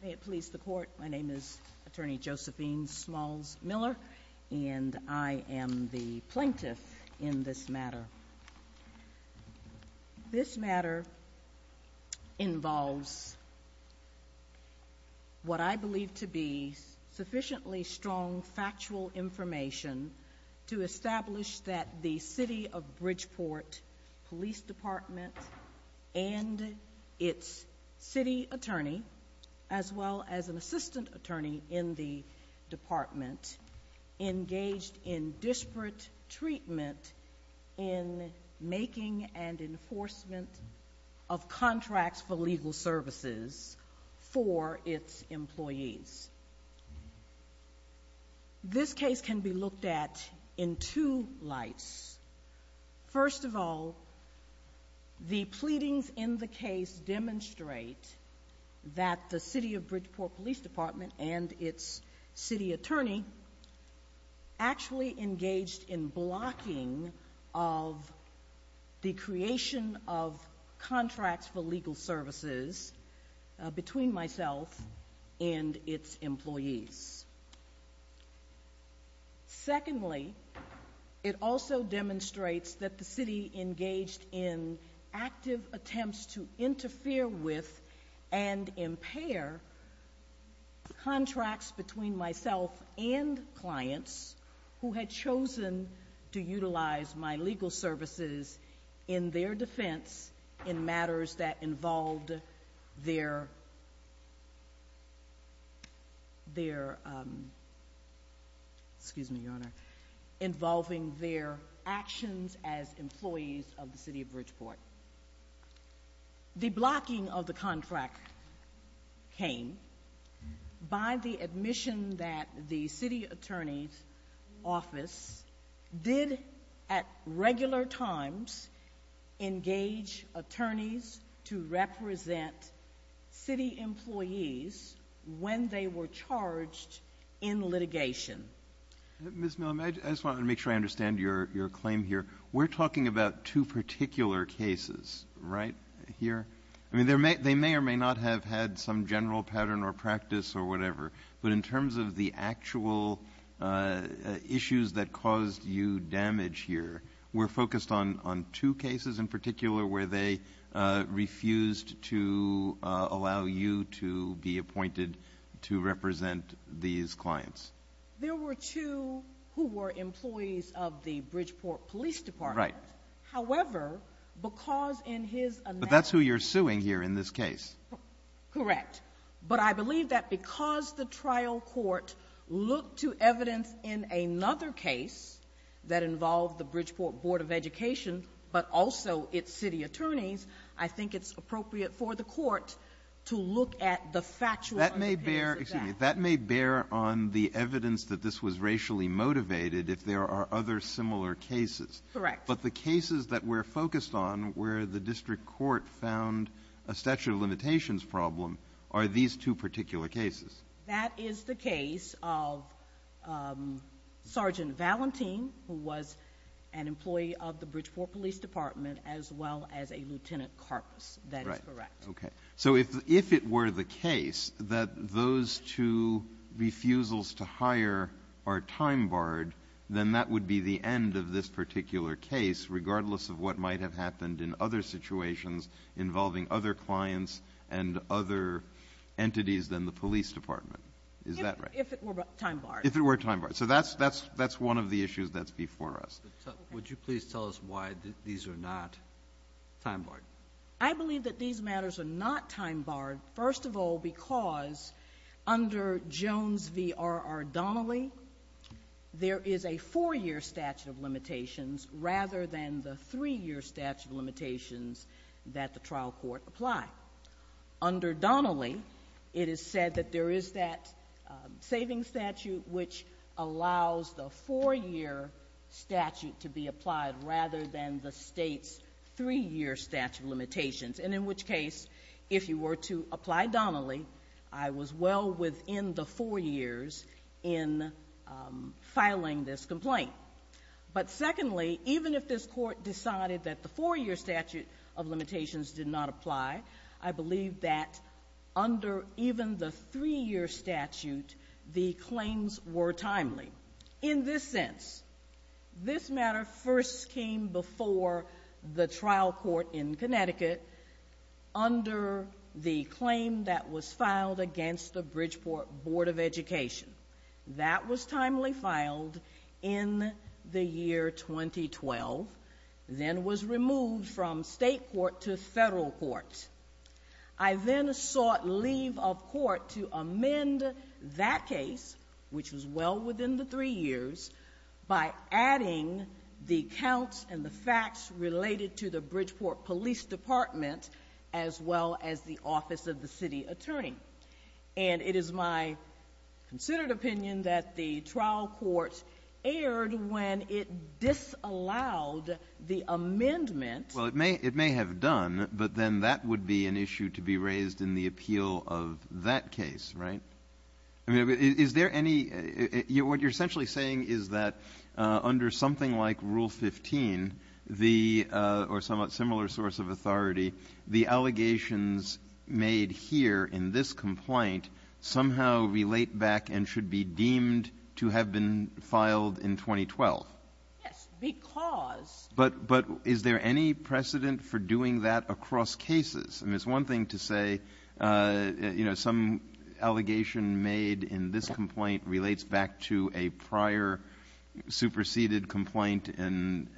May it please the court. My name is Attorney Josephine Smalls Miller, and I am the plaintiff in this matter. This matter involves what I believe to be sufficiently strong factual information to establish that the City of Bridgeport Police Department and its city attorney, as well as an assistant attorney in the department, engaged in disparate treatment in making and enforcement of contracts for legal services for its employees. This case can be looked at in two lights. First of all, the pleadings in the case demonstrate that the City of Bridgeport Police Department and its city attorney actually engaged in blocking of the creation of contracts for legal services between myself and its employees. Secondly, it also demonstrates that the city engaged in active attempts to interfere with and impair contracts between myself and clients who had chosen to utilize my legal services in their defense in matters that involved their actions as employees of the City of Bridgeport. The blocking of the contract came by the admission that the city attorney's office did at regular times engage attorneys to represent city employees when they were charged in litigation. Mr. Miller, I just want to make sure I understand your claim here. We're talking about two particular cases, right, here? I mean, they may or may not have had some general pattern or practice or whatever, but in terms of the actual issues that caused you damage here, we're focused on two cases in particular where they refused to allow you to be appointed to represent these clients. There were two who were employees of the Bridgeport Police Department. However, because in his analysis... But that's who you're suing here in this case. Correct. But I believe that because the trial court looked to evidence in another case that involved the Bridgeport Board of Education but also its city attorneys, I think it's appropriate for the court to look at the factual evidence of that. That may bear on the evidence that this was racially motivated if there are other similar cases. Correct. But the cases that we're focused on where the district court found a statute of limitations problem are these two particular cases. That is the case of Sergeant Valentin, who was an employee of the Bridgeport Police Department, as well as a Lieutenant Karpus. That is correct. Okay. So if it were the case that those two refusals to hire are time-barred, then that would be the end of this particular case, regardless of what might have happened in other situations involving other clients and other entities than the police department. Is that right? If it were time-barred. If it were time-barred. So that's one of the issues that's before us. Would you please tell us why these are not time-barred? I believe that these matters are not time-barred, first of all, because under Jones v. R. R. Donnelly, there is a four-year statute of limitations rather than the three-year statute of limitations that the trial court applied. Under Donnelly, it is said that there is that savings statute which allows the four-year statute to be applied rather than the State's three-year statute of limitations. And in which case, if you were to apply Donnelly, I was well within the four years in filing this complaint. But secondly, even if this Court decided that the four-year statute of limitations did not apply, I believe that under even the three-year statute, the claims were timely. In this sense, this matter first came before the trial court in Connecticut under the claim that was filed against the Bridgeport Board of Education. That was timely filed in the year 2012, then was removed from State court to Federal court. I then sought leave of court to amend that case, which was well within the three years, by adding the counts and the facts related to the Bridgeport Police Department as well as the Office of the City Attorney. And it is my considered opinion that the trial court erred when it disallowed the amendment. Well, it may have done, but then that would be an issue to be raised in the appeal of that case, right? Is there any — what you're essentially saying is that under something like Rule 15, the — or somewhat similar source of authority, the allegations made here in this complaint somehow relate back and should be deemed to have been filed in 2012? Yes, because — But is there any precedent for doing that across cases? I mean, it's one thing to say, you know, some allegation made in this complaint relates back to a prior superseded complaint, an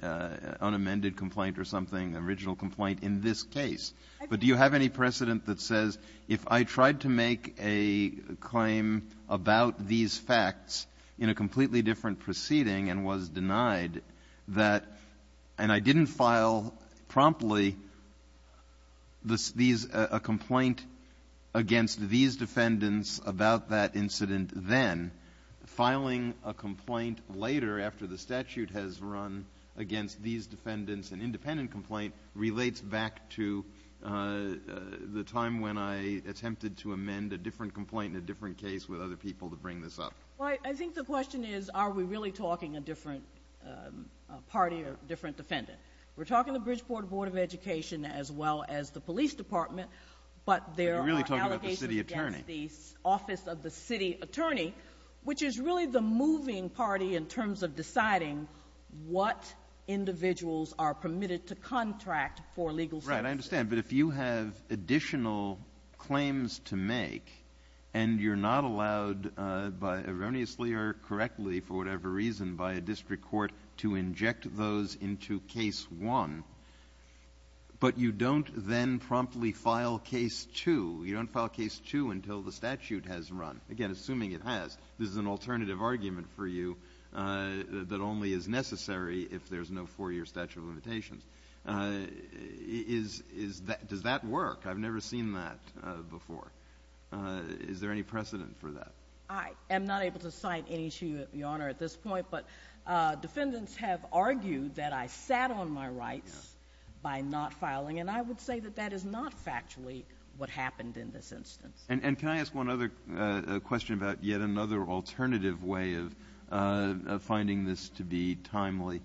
unamended complaint or something, an original complaint in this case. But do you have any precedent that says if I tried to make a claim about these facts in a completely different proceeding and was denied that — and I didn't file promptly this — these — a complaint against these defendants about that incident then, filing a complaint later after the statute has run against these defendants, an independent complaint, relates back to the time when I attempted to amend a different complaint in a different case with other people to bring this up? Well, I think the question is, are we really talking a different party or different defendant? We're talking the Bridgeport Board of Education as well as the police department, but there are allegations against the — You're really talking about the city attorney. — office of the city attorney, which is really the moving party in terms of deciding what individuals are permitted to contract for legal services. Right. I understand. But if you have additional claims to make and you're not allowed by — erroneously or correctly, for whatever reason, by a district court to inject those into Case 1, but you don't then promptly file Case 2, you don't file Case 2 until the statute has run, again, assuming it has — this is an alternative argument for you that only is necessary if there's no four-year statute of limitations — does that work? I've never seen that before. Is there any precedent for that? I am not able to cite any issue, Your Honor, at this point, but defendants have argued that I sat on my rights by not filing, and I would say that that is not factually what happened in this instance. And can I ask one other question about yet another alternative way of finding this to be timely?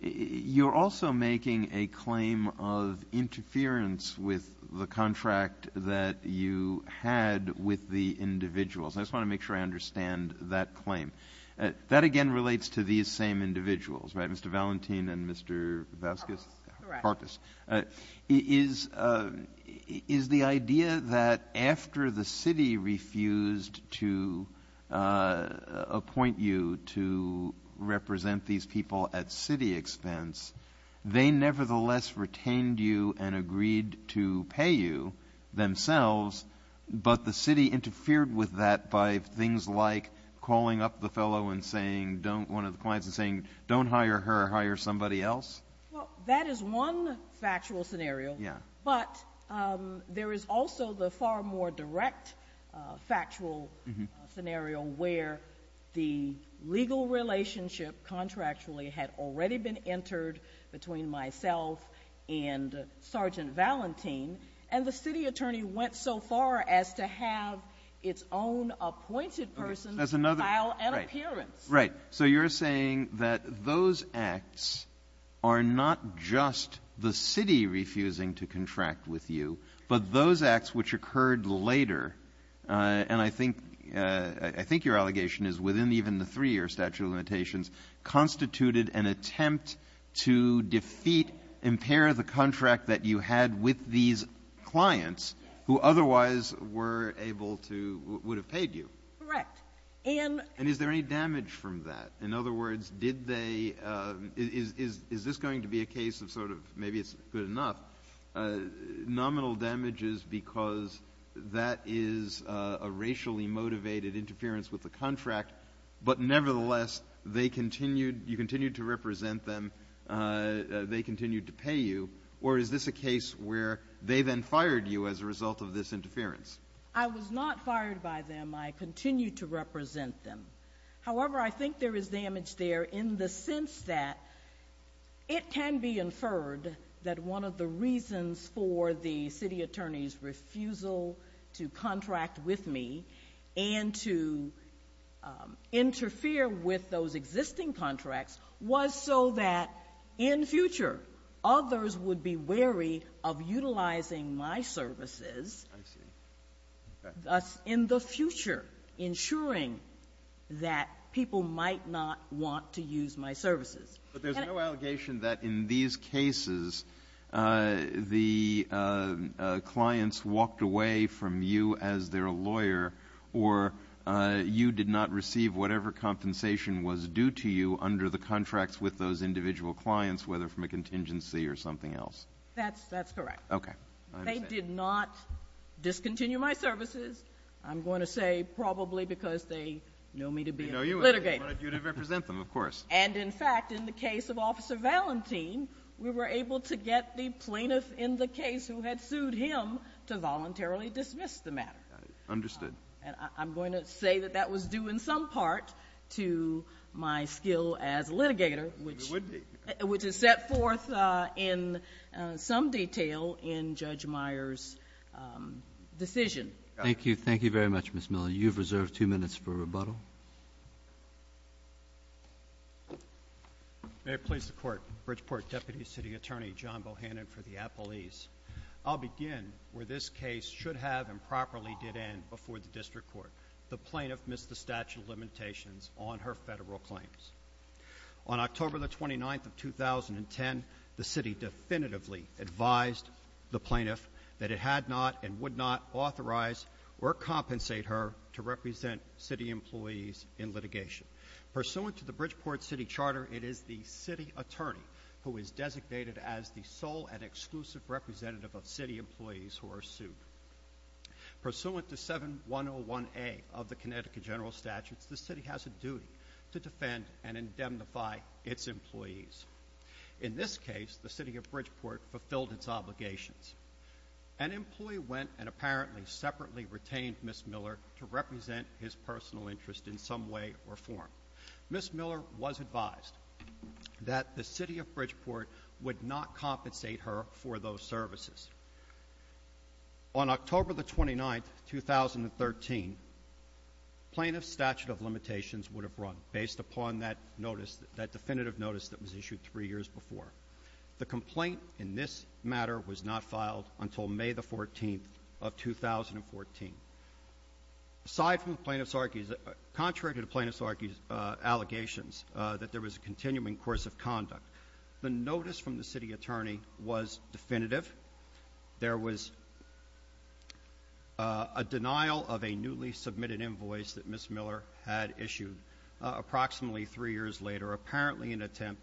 You're also making a claim of interference with the contract that you had with the individuals. I just want to make sure I understand that claim. That, again, relates to these same individuals, right, Mr. Valentin and Mr. Vasquez? Correct. Is the idea that after the city refused to appoint you to represent these people at city expense, they nevertheless retained you and agreed to pay you themselves, but the city interfered with that by things like calling up the fellow and saying — one of the clients and saying, don't hire her, hire somebody else? Well, that is one factual scenario, but there is also the far more direct factual scenario where the legal relationship contractually had already been entered between myself and Sergeant Valentin, and the city attorney went so far as to have its own appointed person file an appearance. Right. So you're saying that those acts are not just the city refusing to contract with you, but those acts which occurred later, and I think your allegation is within even the three-year statute of limitations, constituted an attempt to defeat, impair the contract that you had with these clients who otherwise were able to — would have paid you. Correct. And — Did they damage from that? In other words, did they — is this going to be a case of sort of, maybe it's good enough, nominal damages because that is a racially motivated interference with the contract, but nevertheless, they continued — you continued to represent them, they continued to pay you, or is this a case where they then fired you as a result of this interference? I was not fired by them. I continued to represent them. However, I think there is damage there in the sense that it can be inferred that one of the reasons for the city attorney's refusal to contract with me and to interfere with those existing contracts was so that in future, others would be wary of utilizing my services in the future, ensuring that people might not want to use my services. But there's no allegation that in these cases, the clients walked away from you as their lawyer, or you did not receive whatever compensation was due to you under the contracts with those individual clients, whether from a contingency or something else. That's correct. Okay. They did not discontinue my services. I'm going to say probably because they know me to be a litigator. They know you to represent them, of course. And in fact, in the case of Officer Valentin, we were able to get the plaintiff in the case who had sued him to voluntarily dismiss the matter. Understood. And I'm going to say that that was due in some part to my skill as a litigator, which is set forth in some detail in Judge Meyer's decision. Thank you. Thank you very much, Ms. Miller. You have reserved two minutes for rebuttal. May it please the Court. Bridgeport Deputy City Attorney John Bohannon for the appellees. I'll begin where this case should have and properly did end before the District Court. The plaintiff missed the statute of limitations on her Federal claims. On October 29, 2010, the City definitively advised the plaintiff that it had not and would not authorize or compensate her to represent City employees in litigation. Pursuant to the Bridgeport City Charter, it is the City Attorney who is designated as the sole and exclusive representative of City employees who are sued. Pursuant to 7101A of the Connecticut General Statutes, the City has a duty to defend and indemnify its employees. In this case, the City of Bridgeport fulfilled its obligations. An employee went and apparently separately retained Ms. Miller to represent his personal interest in some way or form. Ms. Miller was advised that the City of Bridgeport would not compensate her for those services. On October 29, 2013, plaintiff's statute of limitations would have run based upon that notice, that definitive notice that was issued three years before. The complaint in this matter was not filed until May 14, 2014. Aside from the plaintiff's, contrary to the plaintiff's allegations that there was a continuing course of conduct, the notice from the City Attorney was definitive. There was a denial of a newly submitted invoice that Ms. Miller had issued approximately three years later, apparently in an attempt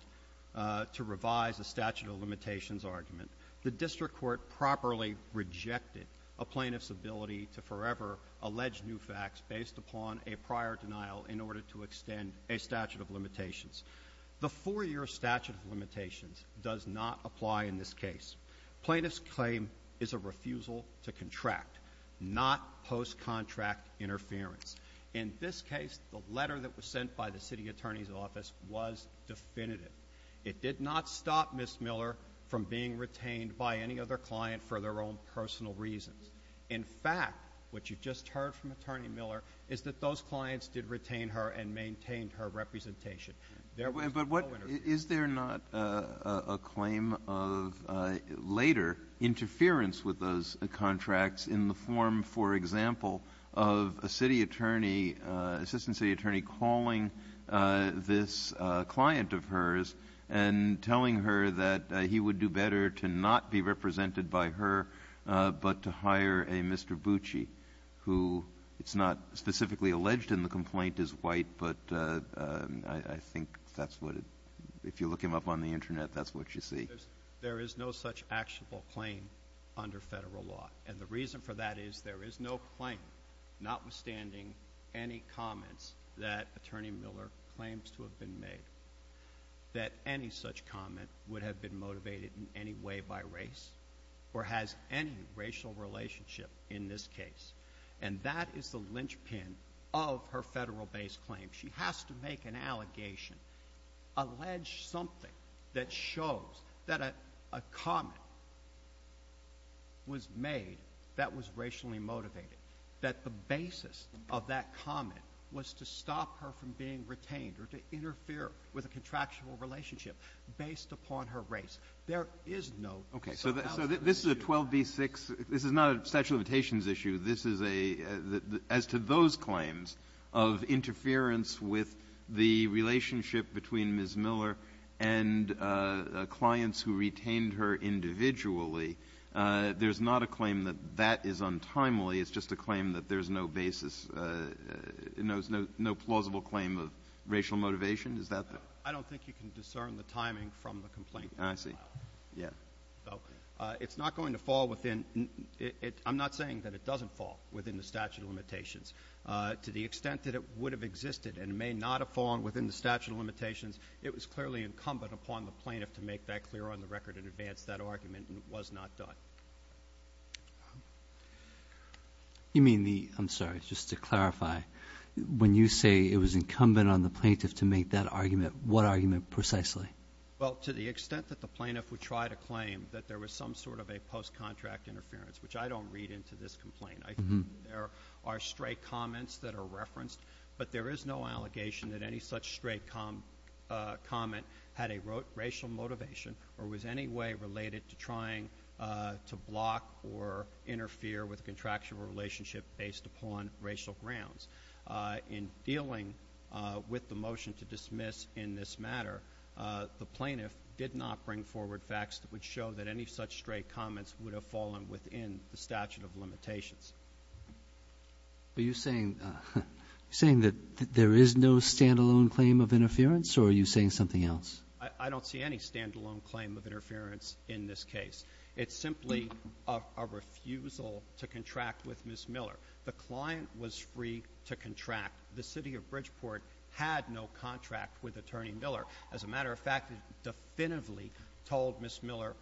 to revise the statute of limitations argument. The district court properly rejected a plaintiff's ability to forever allege new facts based upon a prior denial in order to extend a statute of limitations. The four-year statute of limitations does not apply in this case. Plaintiff's claim is a refusal to contract, not post-contract interference. In this case, the letter that was sent by the City Attorney's office was definitive. It did not stop Ms. Miller from being retained by any other client for their own personal reasons. In fact, what you just heard from Attorney Miller is that those clients did retain her and maintained her representation. There was no interference. Kennedy. But what — is there not a claim of later interference with those contracts in the form, for example, of a city attorney, assistant city attorney, calling this client of hers and telling her that he would do better to not be represented by her, but to hire a Mr. Bucci, who it's not specifically alleged in the complaint is white, but I think that's what it — if you look him up on the Internet, that's what you see. There is no such actionable claim under Federal law. And the reason for that is there is no claim, notwithstanding any comments, that Attorney Miller claims to have been made, that any such comment would have been motivated in any way by race or has any racial relationship in this case. And that is the linchpin of her Federal-based claim. She has to make an allegation, allege something that shows that a comment was made that was racially motivated, that the basis of that comment was to stop her from being retained or to interfere with a contractual relationship based upon her race. There is no such outcome. Okay. So this is a 12b-6. This is not a statute of limitations issue. This is a — as to those claims of interference with the relationship between Ms. Miller and clients who retained her individually, there's not a claim that that is untimely. It's just a claim that there's no basis, no plausible claim of racial motivation? Is that the — I don't think you can discern the timing from the complaint. I see. Yeah. So it's not going to fall within — I'm not saying that it doesn't fall within the statute of limitations. To the extent that it would have existed and may not have fallen within the statute of limitations, it was clearly incumbent upon the plaintiff to make that clear on the record in advance, that argument, and it was not done. You mean the — I'm sorry. Just to clarify, when you say it was incumbent on the plaintiff to make that argument, what argument precisely? Well, to the extent that the plaintiff would try to claim that there was some sort of a post-contract interference, which I don't read into this complaint. I think there are stray comments that are referenced, but there is no allegation that any such stray comment had a racial motivation or was any way related to trying to block or interfere with a contractual relationship based upon racial grounds. In dealing with the motion to dismiss in this matter, the plaintiff did not bring forward facts that would show that any such stray comments would have fallen within the statute of limitations. Are you saying — are you saying that there is no stand-alone claim of interference, or are you saying something else? I don't see any stand-alone claim of interference in this case. It's simply a refusal to contract with Ms. Miller. The client was free to contract. The city of Bridgeport had no contract with Attorney Miller. As a matter of fact, it definitively told Ms. Miller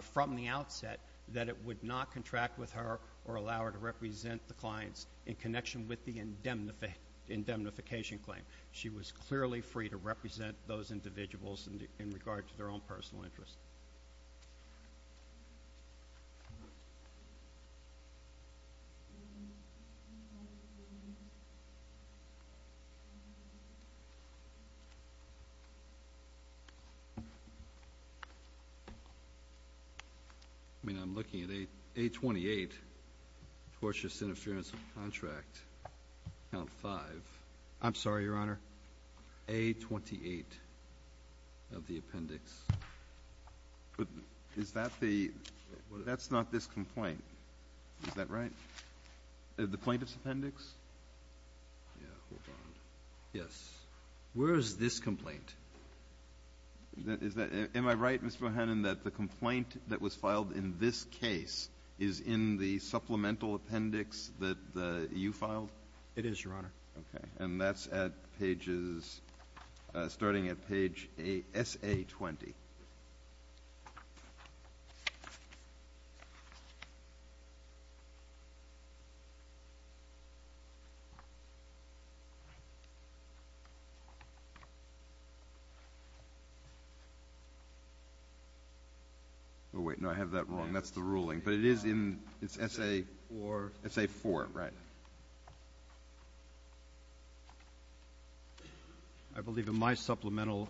from the outset that it would not contract with her or allow her to represent the clients in connection with the indemnification claim. She was clearly free to represent those individuals in regard to their own personal interests. I mean, I'm looking at A28, tortious interference of contract, count five. I'm sorry, Your Honor. A28 of the appendix. But is that the — that's not this complaint. Is that right? The plaintiff's appendix? Yes. Where is this complaint? Is that — am I right, Mr. O'Hannon, that the complaint that was filed in this case is in the supplemental appendix that you filed? It is, Your Honor. Okay. And that's at pages — starting at page SA20. Oh, wait. No, I have that wrong. That's the ruling. But it is in — it's SA4, right? Yes, Your Honor. I believe in my supplemental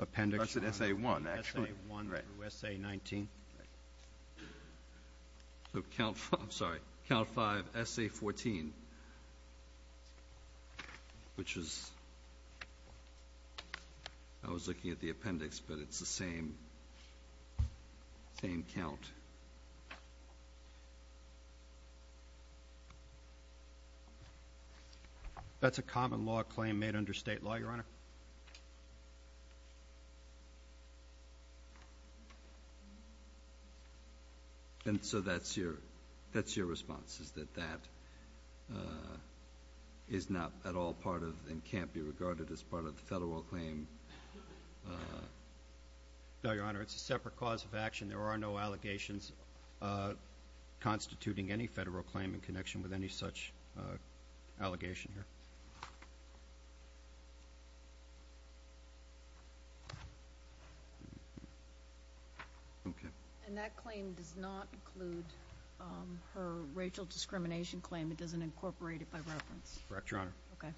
appendix. That's at SA1, actually. SA1 through SA19. So count — I'm sorry, count five, SA14, which is — I was looking at the appendix, but it's the same count. That's a common law claim made under state law, Your Honor. And so that's your — that's your response, is that that is not at all part of and can't be regarded as part of the federal claim? No, Your Honor, it's a separate cause of action. There are no allegations constituting any federal claim in connection with any such allegation here. Okay. And that claim does not include her racial discrimination claim? It doesn't incorporate it by reference? Correct, Your Honor. Okay.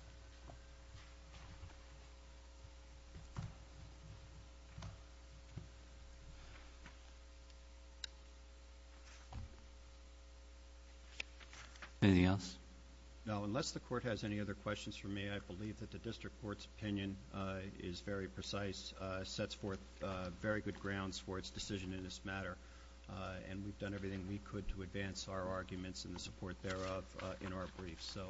Anything else? No. Unless the Court has any other questions for me, I believe that the District Court's opinion is very precise, sets forth very good grounds for its decision in this matter, and we've done everything we could to advance our arguments and the support thereof in our briefs. So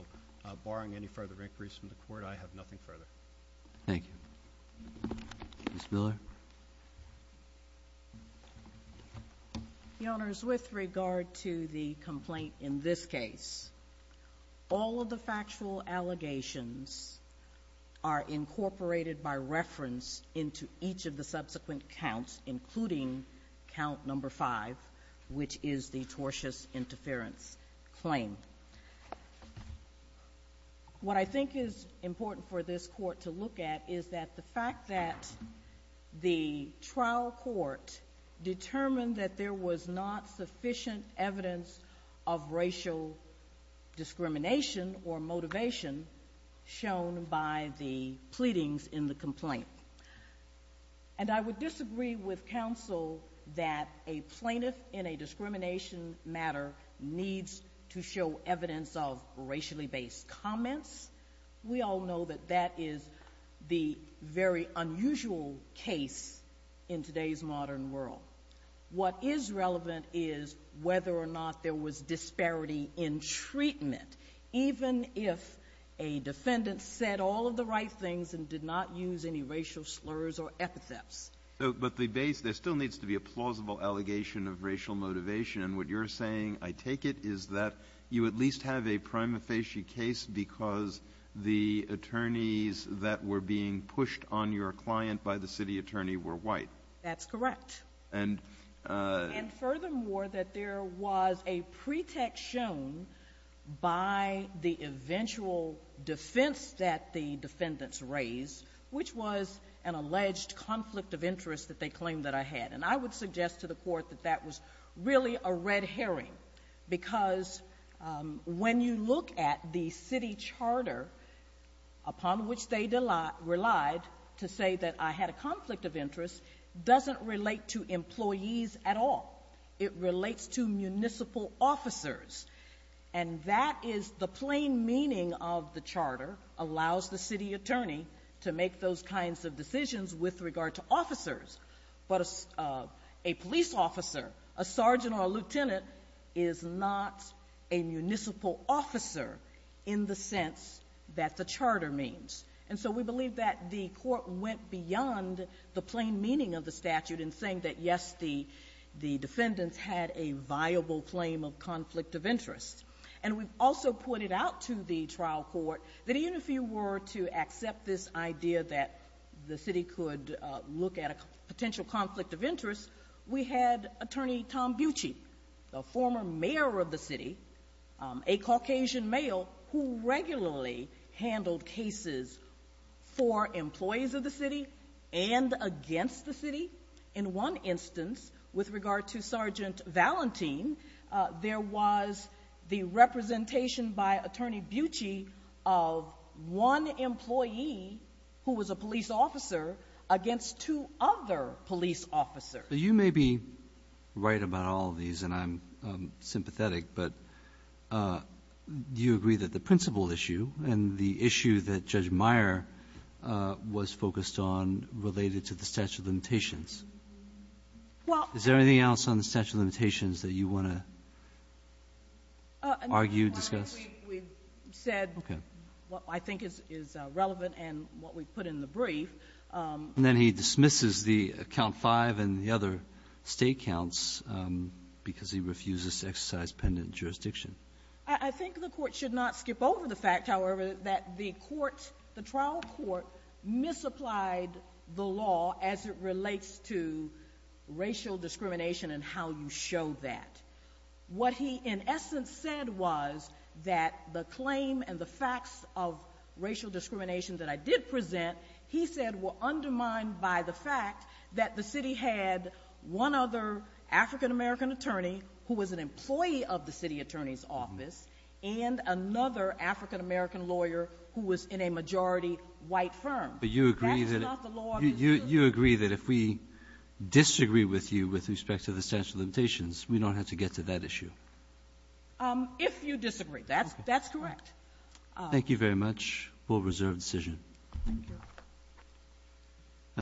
barring any further inquiries from the Court, I have nothing further. Thank you. Ms. Miller? Your Honors, with regard to the complaint in this case, all of the factual allegations are incorporated by reference into each of the subsequent counts, including count number 5, which is the tortious interference claim. What I think is important for this Court to look at is that the fact that the trial court determined that there was not sufficient evidence of racial discrimination or motivation shown by the pleadings in the complaint. And I would disagree with counsel that a plaintiff in a discrimination matter needs to show evidence of racially based comments. We all know that that is the very unusual case in today's modern world. What is relevant is whether or not there was disparity in treatment, even if a defendant said all of the right things and did not use any racial slurs or epithets. But the base, there still needs to be a plausible allegation of racial motivation. And what you're saying, I take it, is that you at least have a prima facie case because the attorneys that were being pushed on your client by the city attorney were white. That's correct. And furthermore, that there was a pretext shown by the eventual defense that the defendants raised, which was an alleged conflict of interest that they claimed that I had. And I would suggest to the Court that that was really a red herring because when you look at the city charter upon which they relied to say that I had a conflict of interest doesn't relate to employees at all. It relates to municipal officers. And that is the plain meaning of the charter, allows the city attorney to make those kinds of decisions with regard to officers. But a police officer, a sergeant or a lieutenant, is not a municipal officer in the sense that the charter means. And so we believe that the Court went beyond the plain meaning of the statute in saying that, yes, the defendants had a viable claim of conflict of interest. And we've also pointed out to the trial court that even if you were to accept this idea that the city could look at a potential conflict of interest, we had Attorney Tom of the city, a Caucasian male who regularly handled cases for employees of the city and against the city. In one instance, with regard to Sergeant Valentin, there was the representation by Attorney Bucci of one employee who was a police officer against two other police officers. But you may be right about all of these, and I'm sympathetic. But do you agree that the principal issue and the issue that Judge Meyer was focused on related to the statute of limitations? Is there anything else on the statute of limitations that you want to argue, discuss? We've said what I think is relevant and what we've put in the brief. And then he dismisses the count five and the other state counts because he refuses to exercise pendant jurisdiction. I think the Court should not skip over the fact, however, that the trial court misapplied the law as it relates to racial discrimination and how you show that. What he, in essence, said was that the claim and the facts of racial discrimination that I did present, he said, were undermined by the fact that the city had one other African-American attorney who was an employee of the city attorney's office and another African-American lawyer who was in a majority white firm. But you agree that if we disagree with you with respect to the statute of limitations, we don't have to get to that issue? If you disagree. That's correct. Thank you very much. We'll reserve the decision. Thank you.